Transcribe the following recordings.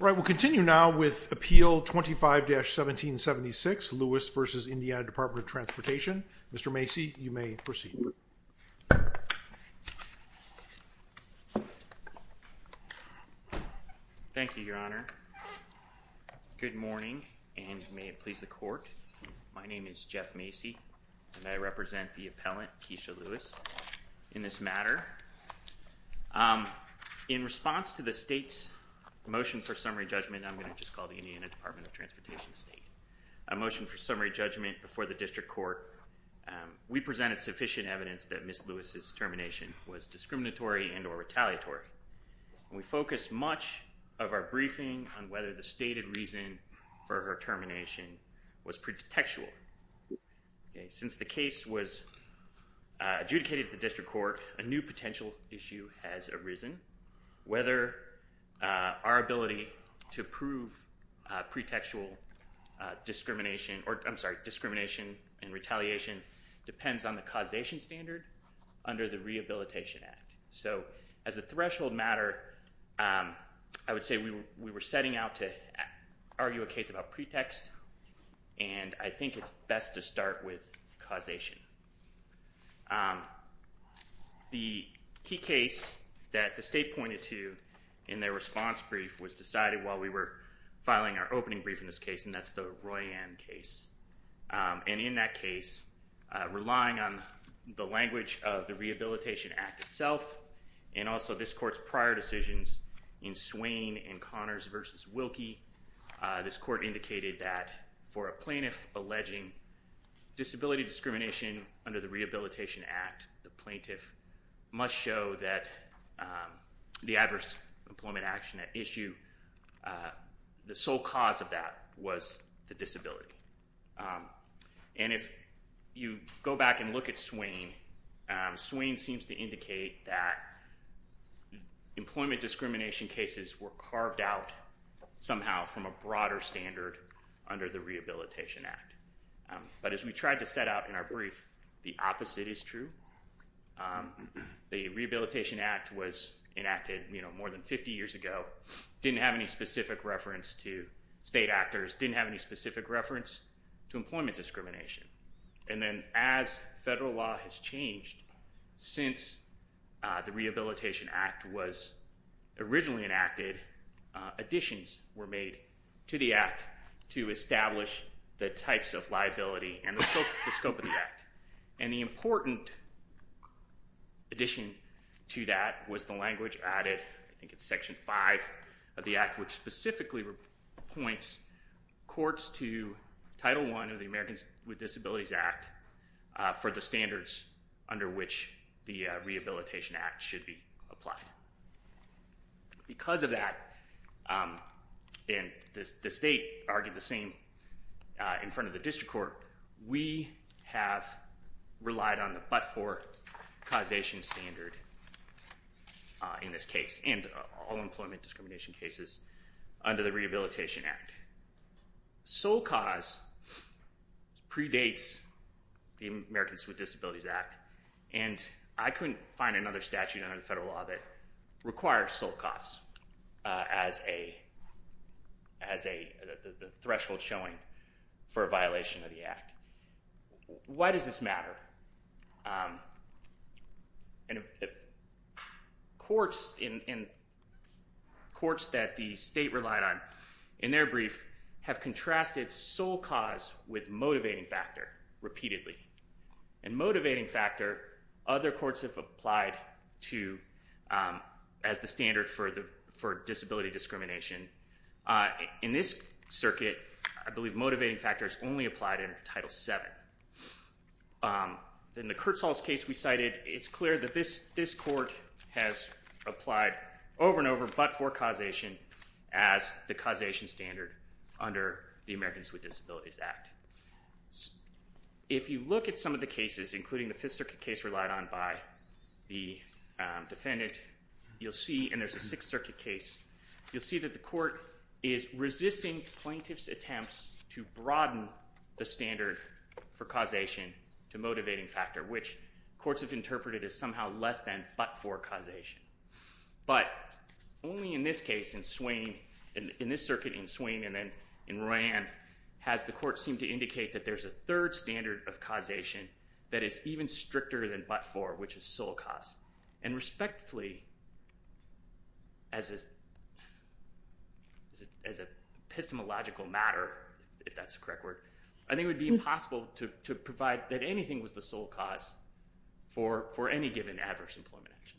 All right, we'll continue now with Appeal 25-1776, Lewis v. Indiana Department of Transportation. Mr. Macy, you may proceed. Thank you, Your Honor. Good morning, and may it please the Court. My name is Jeff Macy, and I represent the appellant, Keisha Lewis, in this matter. In response to the State's motion for summary judgment—I'm going to just call the Indiana Department of Transportation the State—a motion for summary judgment before the District Court, we presented sufficient evidence that Ms. Lewis' termination was discriminatory and or retaliatory, and we focused much of our briefing on whether the stated reason for her termination was pretextual. Since the case was adjudicated at the District Court, a new potential issue has arisen. Whether our ability to prove pretextual discrimination—I'm sorry, discrimination and retaliation depends on the causation standard under the Rehabilitation Act. So as a threshold matter, I would say we were setting out to argue a case about pretext, and I think it's best to start with causation. The key case that the State pointed to in their response brief was decided while we were filing our opening brief in this case, and that's the Roy M. case. And in that case, relying on the language of the Rehabilitation Act itself and also this Court's prior decisions in Swain and Connors v. Wilkie, this Court indicated that for a plaintiff alleging disability discrimination under the Rehabilitation Act, the plaintiff must show that the adverse employment action at issue, the sole cause of that was the disability. And if you go back and look at Swain, Swain seems to indicate that employment discrimination cases were carved out somehow from a broader standard under the Rehabilitation Act. But as we tried to set out in our brief, the opposite is true. The Rehabilitation Act was enacted more than 50 years ago, didn't have any specific reference to state actors, didn't have any specific reference to employment discrimination. And then as federal law has changed since the Rehabilitation Act was originally enacted, additions were made to the Act to establish the types of liability and the scope of the Act. And the important addition to that was the language added, I think it's Section 5 of the Act, which specifically points courts to Title I of the Americans with Disabilities Act for the standards under which the Rehabilitation Act should be applied. Because of that, and the state argued the same in front of the District Court, we have relied on the but-for causation standard in this case, and all employment discrimination cases under the Rehabilitation Act. Sole cause predates the Americans with Disabilities Act, and I couldn't find another statute under the federal law that requires sole cause as the threshold showing for a violation of the Act. Why does this matter? And courts that the state relied on in their brief have contrasted sole cause with motivating factor repeatedly. And motivating factor, other courts have applied to as the standard for disability discrimination. In this circuit, I believe motivating factor is only applied in Title VII. In the Kurtzholz case we cited, it's clear that this court has applied over and over but-for causation as the causation standard under the Americans with Disabilities Act. If you look at some of the cases, including the Fifth Circuit case relied on by the defendant, you'll see, and there's a Sixth Circuit case, you'll see that the court is resisting plaintiff's attempts to broaden the standard for causation to motivating factor, which courts have interpreted as somehow less than but-for causation. But only in this case in Swain, in this circuit in Swain and then in Rand, has the court seemed to indicate that there's a third standard of causation that is even stricter than but-for, which is sole cause. And respectively, as a epistemological matter, if that's the correct word, I think it would be impossible to provide that anything was the sole cause for any given adverse employment action.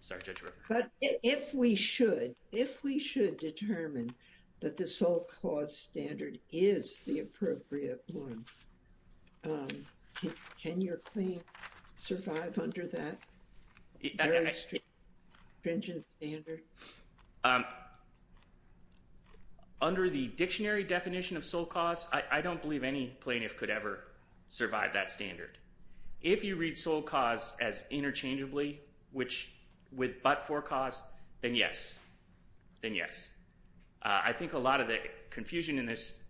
Sorry, Judge Rivera. But if we should, if we should determine that the sole cause standard is the appropriate one, can your claim survive under that very stringent standard? Under the dictionary definition of sole cause, I don't believe any plaintiff could ever survive that standard. If you read sole cause as interchangeably, which with but-for cause, then yes, then yes. I think a lot of the confusion in this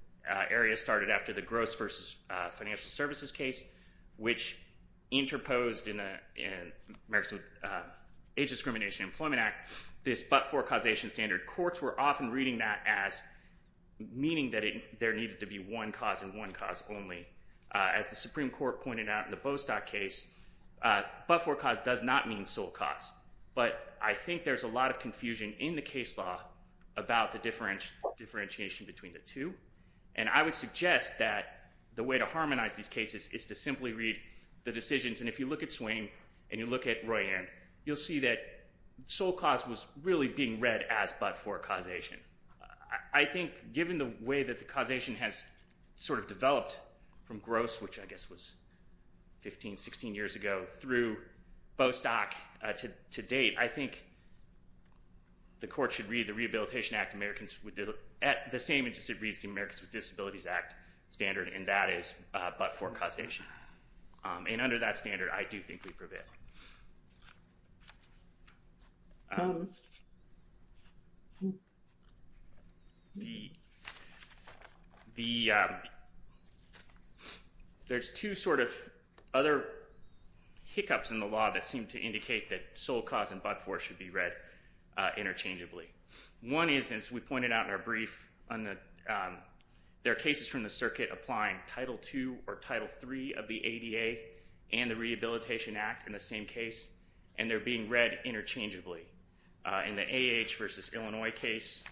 area started after the gross versus financial services case, which interposed in the America's Age Discrimination Employment Act, this but-for causation standard. Courts were often reading that as meaning that there needed to be one cause and one cause only. As the Supreme Court pointed out in the Bostock case, but-for cause does not mean sole cause. But I think there's a lot of confusion in the case law about the differentiation between the two. And I would suggest that the way to harmonize these cases is to simply read the decisions. And if you look at Swain and you look at Royanne, you'll see that sole cause was really being read as but-for causation. I think given the way that the causation has sort of developed from gross, which I guess was 15, 16 years ago, through Bostock to date, I think the court should read the Rehabilitation Act Americans with Disabilities Act standard, and that is but-for causation. And under that standard, I do think we prevail. There's two sort of other hiccups in the law that seem to indicate that sole cause and but-for should be read interchangeably. One is, as we pointed out in our brief, there are cases from the circuit applying Title 2 or Title 3 of the ADA and the Rehabilitation Act in the same case, and they're being read interchangeably. In the AAH versus Illinois case,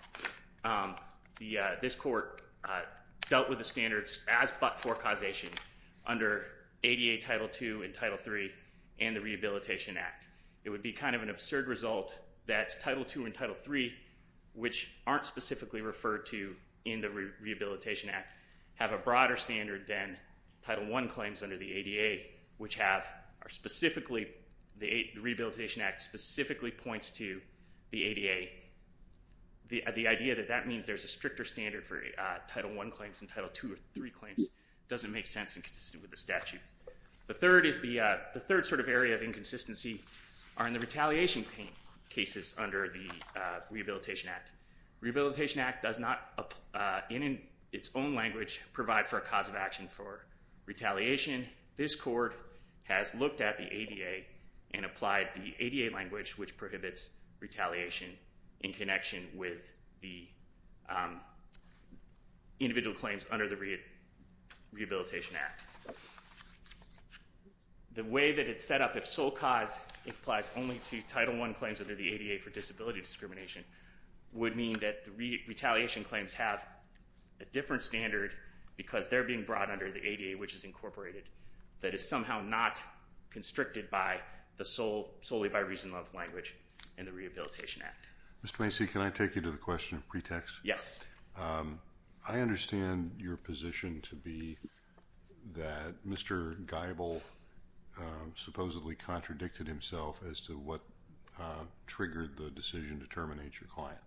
this court dealt with the standards as but-for causation under ADA Title 2 and Title 3 and the Rehabilitation Act. It would be kind of an absurd result that Title 2 and Title 3, which aren't specifically referred to in the Rehabilitation Act, have a broader standard than Title 1 claims under the ADA, which have specifically, the Rehabilitation Act specifically points to the ADA. The idea that that means there's a stricter standard for Title 1 claims than Title 2 or 3 claims doesn't make sense in consistency with the statute. The third sort of area of inconsistency are in the retaliation cases under the Rehabilitation Act. Rehabilitation Act does not, in its own language, provide for a cause of action for retaliation. This court has looked at the ADA and applied the ADA language, which prohibits retaliation in connection with the individual claims under the Rehabilitation Act. The way that it's set up, if sole cause applies only to Title 1 claims under the ADA for disability discrimination, would mean that the retaliation claims have a different standard because they're being brought under the ADA, which is incorporated, that is somehow not constricted by the solely by reason of language in the Rehabilitation Act. Mr. Macy, can I take you to the question in pretext? Yes. I understand your position to be that Mr. Geibel supposedly contradicted himself as to what triggered the decision to terminate your client.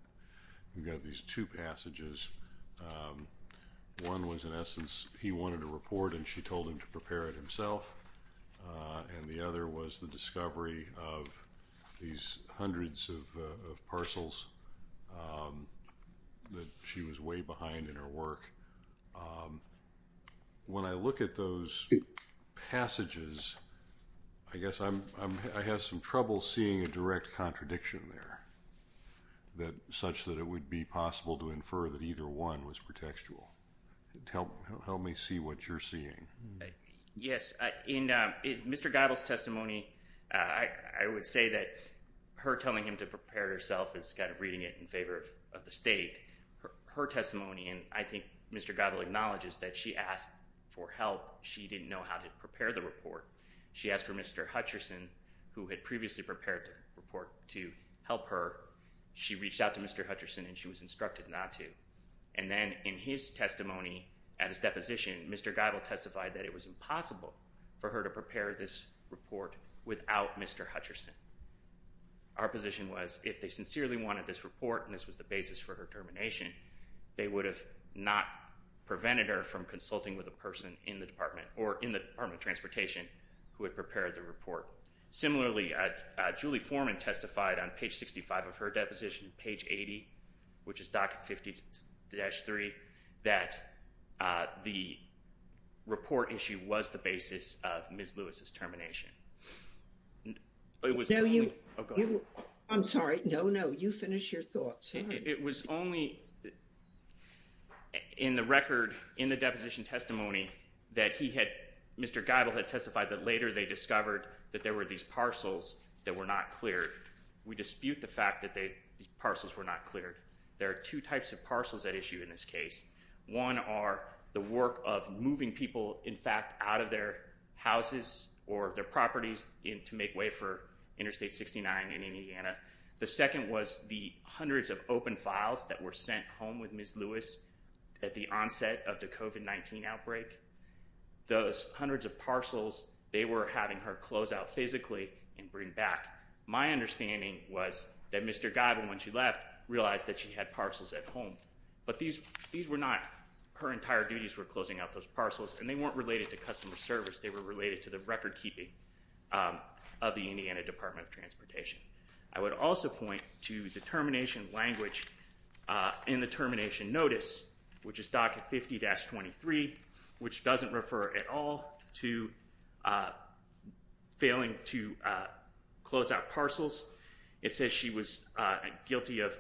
You've got these two passages. One was, in essence, he wanted a report and she told him to prepare it himself. And the other was the discovery of these hundreds of parcels that she was way behind in her work. When I look at those passages, I guess I have some trouble seeing a direct contradiction there, such that it would be possible to infer that either one was pretextual. Help me see what you're seeing. Yes. In Mr. Geibel's testimony, I would say that her telling him to prepare herself is kind of reading it in favor of the state. Her testimony, and I think Mr. Geibel acknowledges that she asked for help. She didn't know how to prepare the report. She asked for Mr. Hutcherson, who had previously prepared the report to help her. She reached out to Mr. Hutcherson and she was instructed not to. And then in his testimony, at his deposition, Mr. Geibel testified that it was impossible for her to prepare this report without Mr. Hutcherson. Our position was, if they sincerely wanted this report and this was the basis for her termination, they would have not prevented her from consulting with a person in the Department or in the Department of Transportation who had prepared the report. Similarly, Julie Foreman testified on page 65 of her deposition, page 80, which is docket 50-3, that the report issue was the basis of Ms. Lewis's termination. It was only... No, you... Oh, go ahead. I'm sorry. No, no. You finish your thoughts. It was only in the record, in the deposition testimony, that he had, Mr. Geibel had testified that later they discovered that there were these parcels that were not cleared. We dispute the fact that these parcels were not cleared. There are two types of parcels at issue in this case. One are the work of moving people, in fact, out of their houses or their properties to make way for Interstate 69 in Indiana. The second was the hundreds of open files that were sent home with Ms. Lewis at the onset of the COVID-19 outbreak. Those hundreds of parcels, they were having her close out physically and bring back. My understanding was that Mr. Geibel, when she left, realized that she had parcels at But these were not her entire duties were closing out those parcels, and they weren't related to customer service. They were related to the record keeping of the Indiana Department of Transportation. I would also point to the termination language in the termination notice, which is docket 50-23, which doesn't refer at all to failing to close out parcels. It says she was guilty of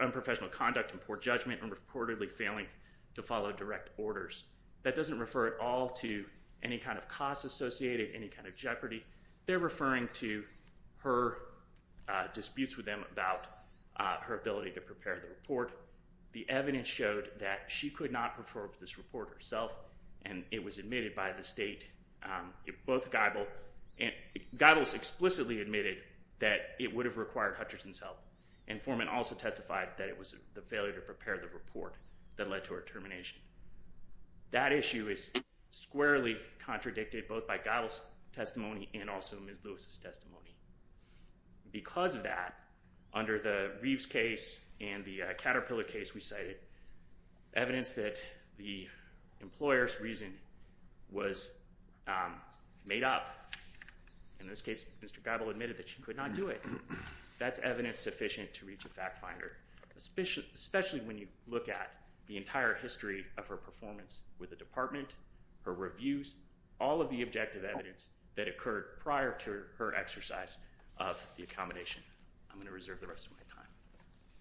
unprofessional conduct and poor judgment and reportedly failing to follow direct orders. That doesn't refer at all to any kind of cost associated, any kind of jeopardy. They're referring to her disputes with them about her ability to prepare the report. The evidence showed that she could not perform this report herself, and it was admitted by the state, both Geibel, and Geibel explicitly admitted that it would have required Hutchinson's help. And Foreman also testified that it was the failure to prepare the report that led to her termination. That issue is squarely contradicted both by Geibel's testimony and also Ms. Lewis' testimony. Because of that, under the Reeves case and the Caterpillar case we cited, evidence that the employer's reason was made up, in this case Mr. Geibel admitted that she could not do it. That's evidence sufficient to reach a fact finder, especially when you look at the entire history of her performance with the department, her reviews, all of the objective evidence that occurred prior to her exercise of the accommodation. I'm going to reserve the rest of my time.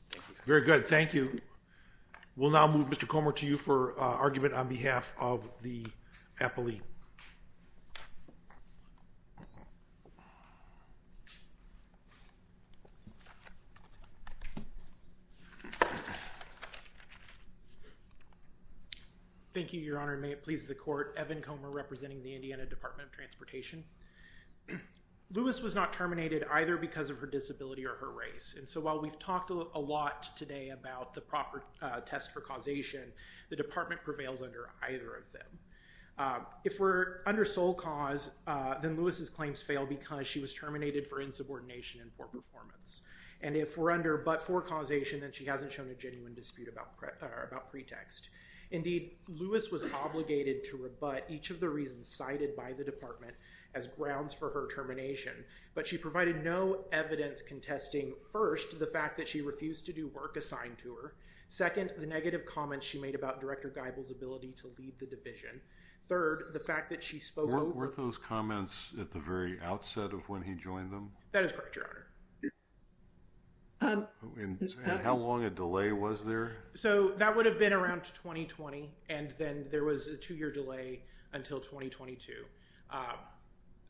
Thank you. Very good. Thank you. We'll now move Mr. Comer to you for argument on behalf of the appellee. Thank you, Your Honor. May it please the court. Evan Comer, representing the Indiana Department of Transportation. Lewis was not terminated either because of her disability or her race. While we've talked a lot today about the proper test for causation, the department prevails under either of them. If we're under sole cause, then Lewis' claims fail because she was terminated for insubordination and poor performance. If we're under but for causation, then she hasn't shown a genuine dispute about pretext. Indeed, Lewis was obligated to rebut each of the reasons cited by the department as grounds for her termination. But she provided no evidence contesting, first, the fact that she refused to do work assigned to her. Second, the negative comments she made about Director Geibel's ability to lead the division. Third, the fact that she spoke over... Weren't those comments at the very outset of when he joined them? That is correct, Your Honor. And how long a delay was there? So, that would have been around 2020. And then there was a two-year delay until 2022.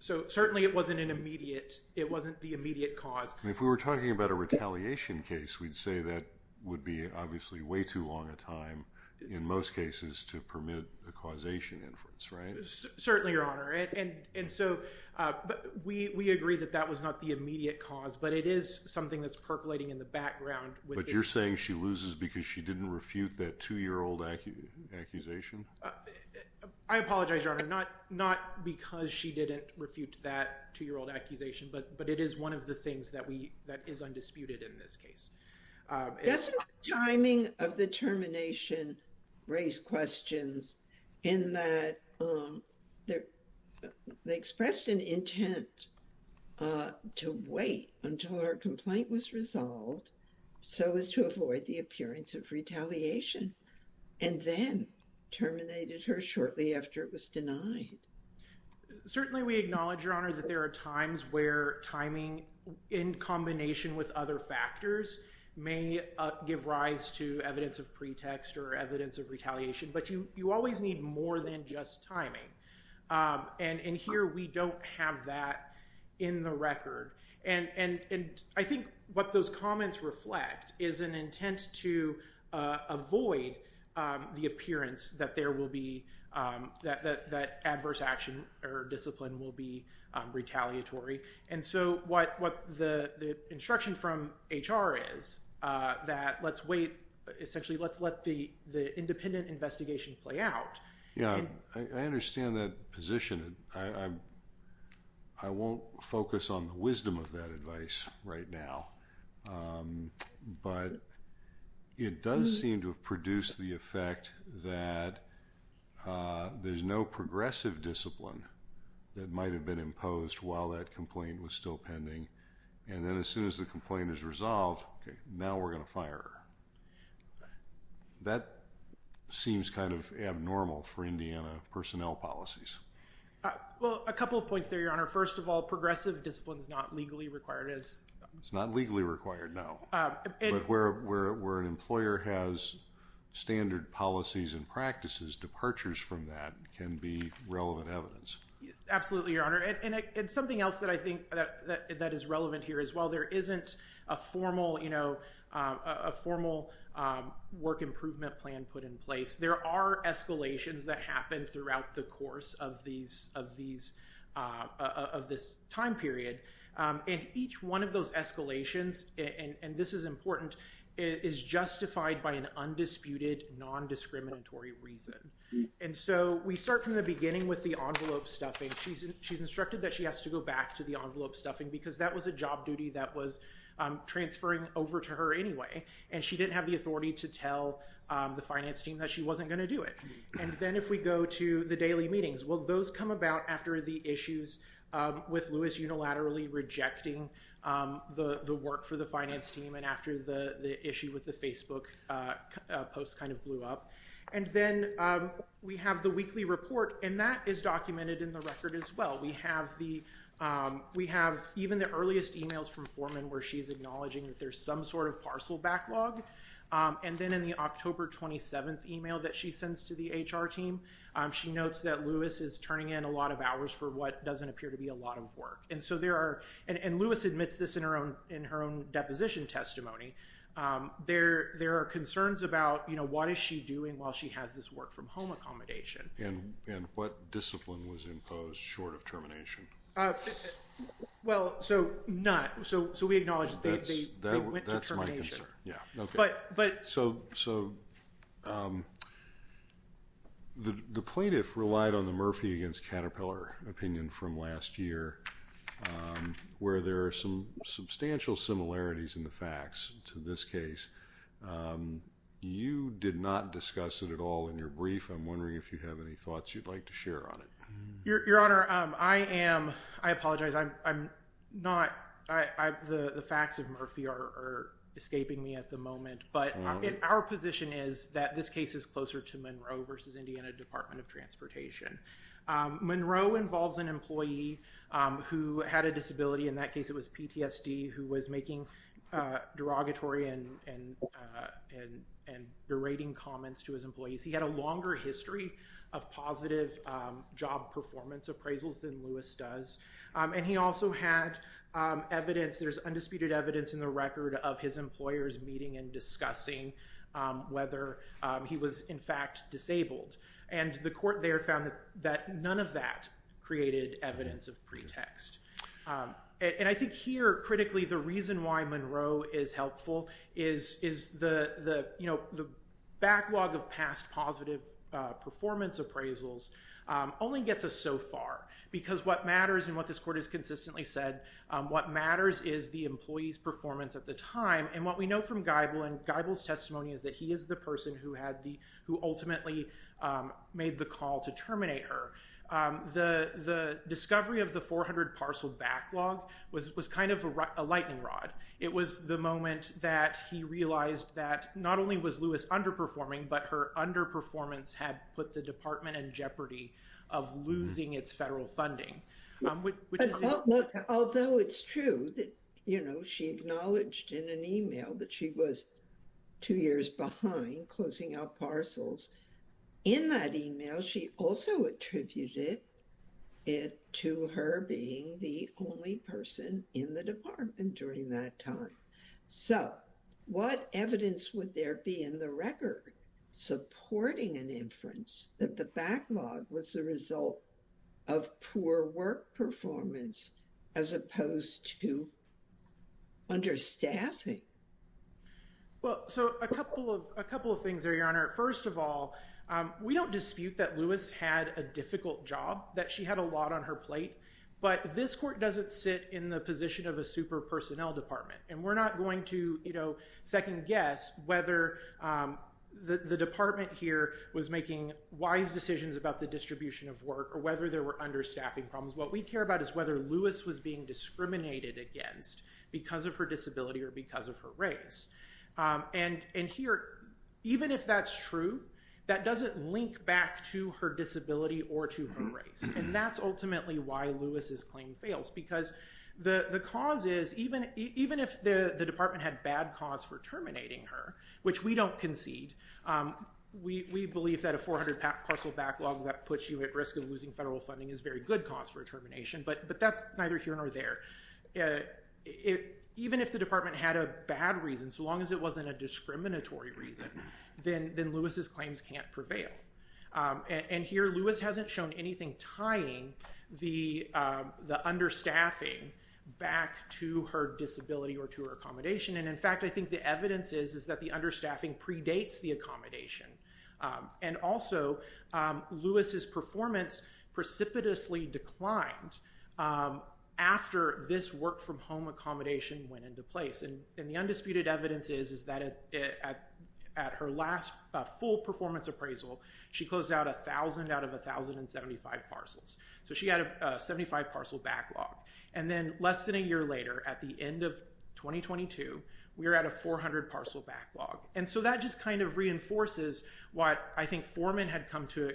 So, certainly, it wasn't an immediate... It wasn't the immediate cause. If we were talking about a retaliation case, we'd say that would be, obviously, way too long a time, in most cases, to permit a causation inference, right? Certainly, Your Honor. And so, we agree that that was not the immediate cause, but it is something that's percolating in the background. But you're saying she loses because she didn't refute that two-year-old accusation? I apologize, Your Honor. Not because she didn't refute that two-year-old accusation, but it is one of the things that is undisputed in this case. Definitely, the timing of the termination raised questions in that they expressed an intent to wait until her complaint was resolved so as to avoid the appearance of retaliation and then terminated her shortly after it was denied. Certainly, we acknowledge, Your Honor, that there are times where timing, in combination with other factors, may give rise to evidence of pretext or evidence of retaliation. But you always need more than just timing. And here, we don't have that in the record. And I think what those comments reflect is an intent to avoid the appearance that there will be—that adverse action or discipline will be retaliatory. And so, what the instruction from HR is that let's wait. Essentially, let's let the independent investigation play out. Yeah, I understand that position. I won't focus on the wisdom of that advice right now. But it does seem to have produced the effect that there's no progressive discipline that might have been imposed while that complaint was still pending. And then as soon as the complaint is resolved, now we're going to fire her. That seems kind of abnormal for Indiana personnel policies. Well, a couple of points there, Your Honor. First of all, progressive discipline is not legally required. It's not legally required, no. But where an employer has standard policies and practices, departures from that can be relevant evidence. Absolutely, Your Honor. And something else that I think that is relevant here as well, there isn't a formal work improvement plan put in place. There are escalations that happen throughout the course of this time period. And each one of those escalations, and this is important, is justified by an undisputed non-discriminatory reason. And so, we start from the beginning with the envelope stuffing. She's instructed that she has to go back to the envelope stuffing because that was a job duty that was transferring over to her anyway. And she didn't have the authority to tell the finance team that she wasn't going to do it. And then if we go to the daily meetings, well, those come about after the issues with Lewis unilaterally rejecting the work for the finance team and after the issue with the Facebook post kind of blew up. And then we have the weekly report, and that is documented in the record as well. We have even the earliest emails from Foreman where she's acknowledging that there's some sort of parcel backlog. And then in the October 27th email that she sends to the HR team, she notes that Lewis is turning in a lot of hours for what doesn't appear to be a lot of work. And so there are, and Lewis admits this in her own deposition testimony, there are concerns about, you know, what is she doing while she has this work from home accommodation? And what discipline was imposed short of termination? Well, so, none. So we acknowledge that they went to termination. That's my concern, yeah. But... So the plaintiff relied on the Murphy against Caterpillar opinion from last year, where there are some substantial similarities in the facts to this case. You did not discuss it at all in your brief. I'm wondering if you have any thoughts you'd like to share on it. Your Honor, I am, I apologize. I'm not, the facts of Murphy are escaping me at the moment. But our position is that this case is closer to Monroe versus Indiana Department of Transportation. Monroe involves an employee who had a disability. In that case, it was PTSD, who was making derogatory and berating comments to his employees. He had a longer history of positive job performance appraisals than Lewis does. And he also had evidence, there's undisputed evidence in the record of his employers meeting and discussing whether he was in fact disabled. And the court there found that none of that created evidence of pretext. And I think here, critically, the reason why Monroe is helpful is the backlog of past positive performance appraisals only gets us so far. Because what matters, and what this court has consistently said, what matters is the employee's performance at the time. And what we know from Geibel, and Geibel's testimony is that he is the person who ultimately made the call to terminate her. The discovery of the 400 parcel backlog was kind of a lightning rod. It was the moment that he realized that not only was Lewis underperforming, but her underperformance had put the department in jeopardy of losing its federal funding. Although it's true that, you know, she acknowledged in an email that she was two years behind closing out parcels, in that email, she also attributed it to her being the only person in the department during that time. So what evidence would there be in the record supporting an inference that the backlog was the result of poor work performance, as opposed to understaffing? Well, so a couple of things there, Your Honor. First of all, we don't dispute that Lewis had a difficult job, that she had a lot on her plate. But this court doesn't sit in the position of a super personnel department, and we're not going to, you know, second guess whether the department here was making wise decisions about the distribution of work, or whether there were understaffing problems. What we care about is whether Lewis was being discriminated against because of her disability or because of her race. And here, even if that's true, that doesn't link back to her disability or to her race. And that's ultimately why Lewis's claim fails. Because the cause is, even if the department had bad cause for terminating her, which we don't concede, we believe that a 400 parcel backlog that puts you at risk of losing federal funding is a very good cause for termination. But that's neither here nor there. Even if the department had a bad reason, so long as it wasn't a discriminatory reason, then Lewis's claims can't prevail. And here, Lewis hasn't shown anything tying the understaffing back to her disability or to her accommodation. And in fact, I think the evidence is that the understaffing predates the accommodation. And also, Lewis's performance precipitously declined after this work from home accommodation went into place. And the undisputed evidence is that at her last full performance appraisal, she closed out 1,000 out of 1,075 parcels. So she had a 75 parcel backlog. And then less than a year later, at the end of 2022, we were at a 400 parcel backlog. And so that just kind of reinforces what I think Foreman had come to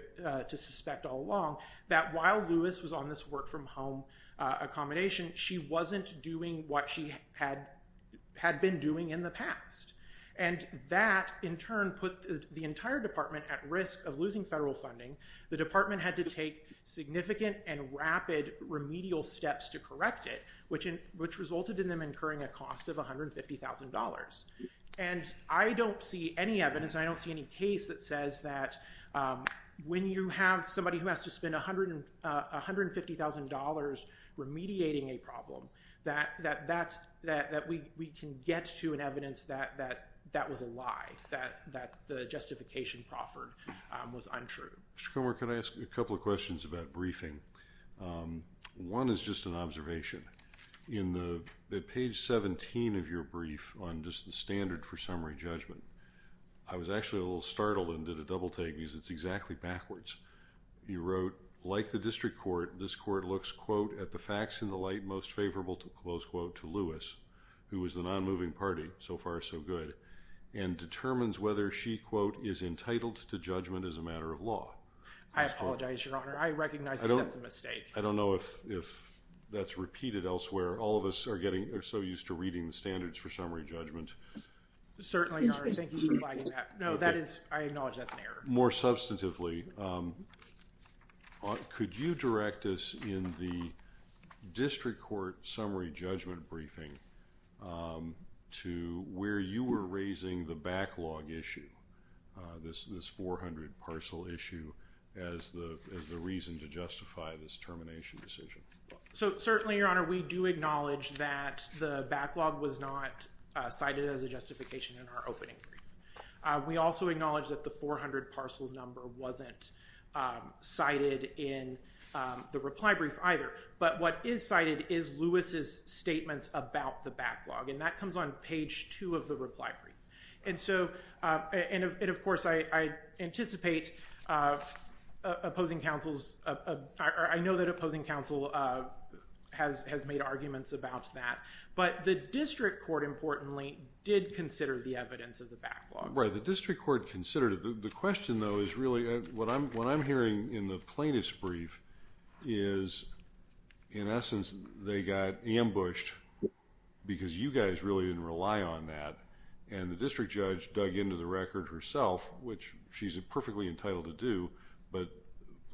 suspect all along, that while Lewis was on this work from home accommodation, she wasn't doing what she had been doing in the past. And that, in turn, put the entire department at risk of losing federal funding. The department had to take significant and rapid remedial steps to correct it, which resulted in them incurring a cost of $150,000. And I don't see any evidence. I don't see any case that says that when you have somebody who has to spend $150,000 remediating a problem, that we can get to an evidence that that was a lie, that the justification proffered was untrue. Mr. Comer, can I ask you a couple of questions about briefing? One is just an observation. In page 17 of your brief on just the standard for summary judgment, I was actually a little startled and did a double-take because it's exactly backwards. You wrote, like the district court, this court looks, quote, at the facts in the light most favorable, close quote, to Lewis, who was the non-moving party, so far so good, and determines whether she, quote, is entitled to judgment as a matter of law. I apologize, Your Honor. I recognize that that's a mistake. I don't know if that's repeated elsewhere. All of us are so used to reading the standards for summary judgment. Certainly, Your Honor. Thank you for flagging that. No, I acknowledge that's an error. More substantively, could you direct us in the district court summary judgment briefing to where you were raising the backlog issue, this 400 parcel issue, as the reason to justify this termination decision? So certainly, Your Honor, we do acknowledge that the backlog was not cited as a justification in our opening brief. We also acknowledge that the 400 parcel number wasn't cited in the reply brief either. But what is cited is Lewis's statements about the backlog, and that comes on page 2 of the reply brief. And of course, I know that opposing counsel has made arguments about that. But the district court, importantly, did consider the evidence of the backlog. Right. The district court considered it. The question, though, is really, what I'm hearing in the plaintiff's brief is, in essence, they got ambushed because you guys really didn't rely on that. And the district judge dug into the record herself, which she's perfectly entitled to do. But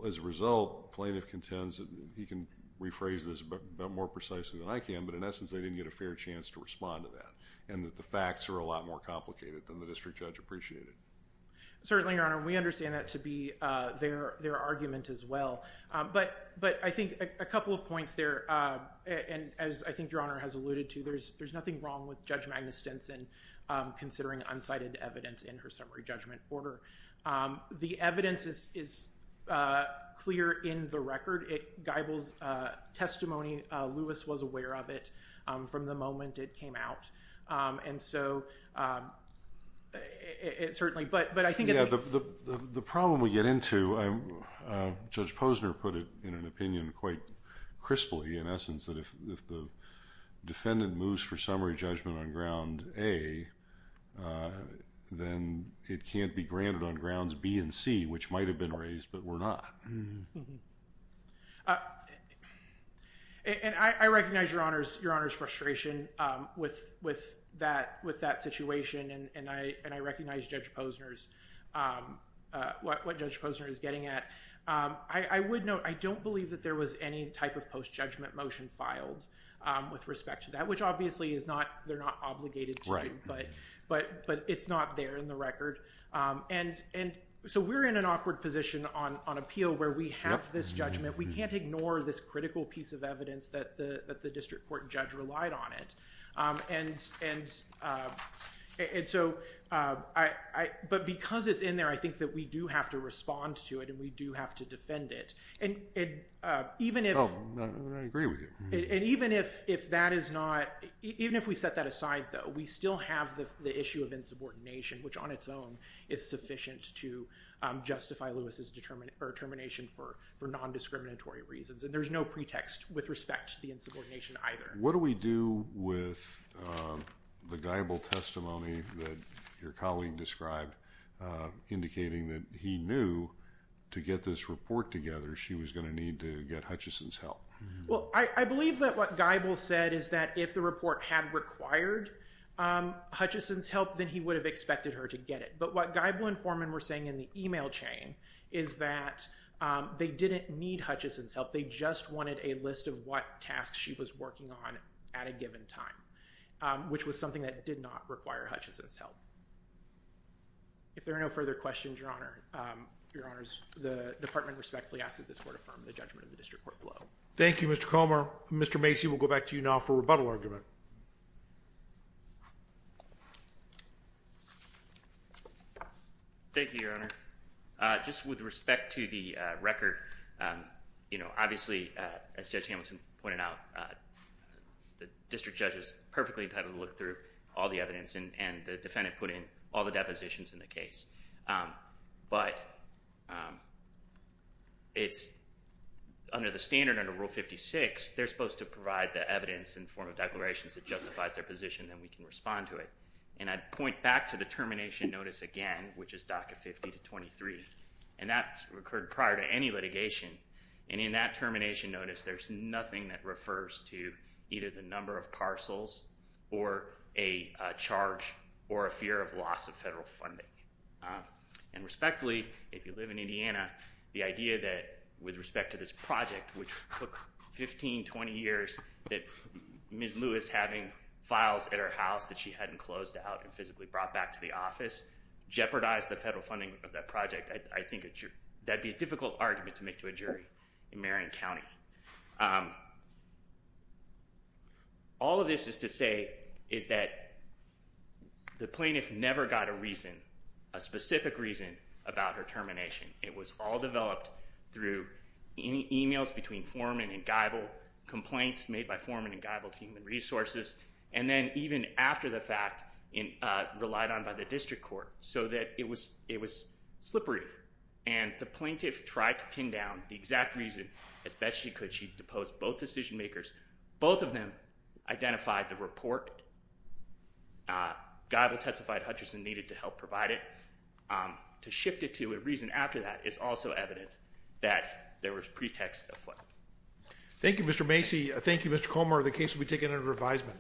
as a result, plaintiff contends, and he can rephrase this more precisely than I can, but in essence, they didn't get a fair chance to respond to that, and that the facts are a lot more complicated than the district judge appreciated. Certainly, Your Honor. We understand that to be their argument as well. But I think a couple of points there, and as I think Your Honor has alluded to, there's nothing wrong with Judge Magnus Stinson considering unsighted evidence in her summary judgment order. The evidence is clear in the record. Geibel's testimony, Lewis was aware of it from the moment it came out. The problem we get into, Judge Posner put it in an opinion quite crisply, in essence, that if the defendant moves for summary judgment on Ground A, then it can't be granted on Grounds B and C, which might have been raised, but were not. And I recognize Your Honor's frustration with that situation, and I recognize Judge Posner's, what Judge Posner is getting at. I would note, I don't believe that there was any type of post-judgment motion filed with respect to that, which obviously they're not obligated to, but it's not there in the record. And so we're in an awkward position on appeal where we have this judgment. We can't ignore this critical piece of evidence that the district court judge relied on it. But because it's in there, I think that we do have to respond to it, and we do have to defend it. And even if... Oh, I agree with you. And even if that is not... even if we set that aside, though, we still have the issue of insubordination, which on its own is sufficient to justify Lewis's termination for nondiscriminatory reasons. And there's no pretext with respect to the insubordination either. What do we do with the Geibel testimony that your colleague described, indicating that he knew to get this report together, she was going to need to get Hutchison's help? Well, I believe that what Geibel said is that if the report had required Hutchison's help, then he would have expected her to get it. But what Geibel and Foreman were saying in the email chain is that they didn't need Hutchison's help. They just wanted a list of what tasks she was working on at a given time, which was something that did not require Hutchison's help. If there are no further questions, Your Honor, the department respectfully asks that this court confirm the judgment of the district court below. Thank you, Mr. Comer. Mr. Macy, we'll go back to you now for a rebuttal argument. Thank you, Your Honor. Just with respect to the record, obviously, as Judge Hamilton pointed out, the district judge was perfectly entitled to look through all the evidence, and the defendant put in all the depositions in the case. But under the standard, under Rule 56, they're supposed to provide the evidence in the form of declarations that justifies their position, then we can respond to it. And I'd point back to the termination notice again, which is DACA 50-23, and that occurred prior to any litigation. And in that termination notice, there's nothing that refers to either the number of parcels or a charge or a fear of loss of federal funding. And respectfully, if you live in Indiana, the idea that with respect to this project, which took 15, 20 years, that Ms. Lewis, having files at her house that she hadn't closed out and physically brought back to the office, jeopardized the federal funding of that project, I think that'd be a difficult argument to make to a jury in Marion County. All of this is to say is that the plaintiff never got a reason, a specific reason, about her termination. It was all developed through emails between Foreman and Geibel, complaints made by Foreman and Geibel to Human Resources, and then even after the fact, relied on by the district court, so that it was slippery. And the plaintiff tried to pin down the exact reason as best she could. She deposed both decision makers. Both of them identified the report Geibel testified Hutchinson needed to help provide it. To shift it to a reason after that is also evidence that there was pretext of what. Thank you, Mr. Macy. Thank you, Mr. Comer. The case will be taken under revisement.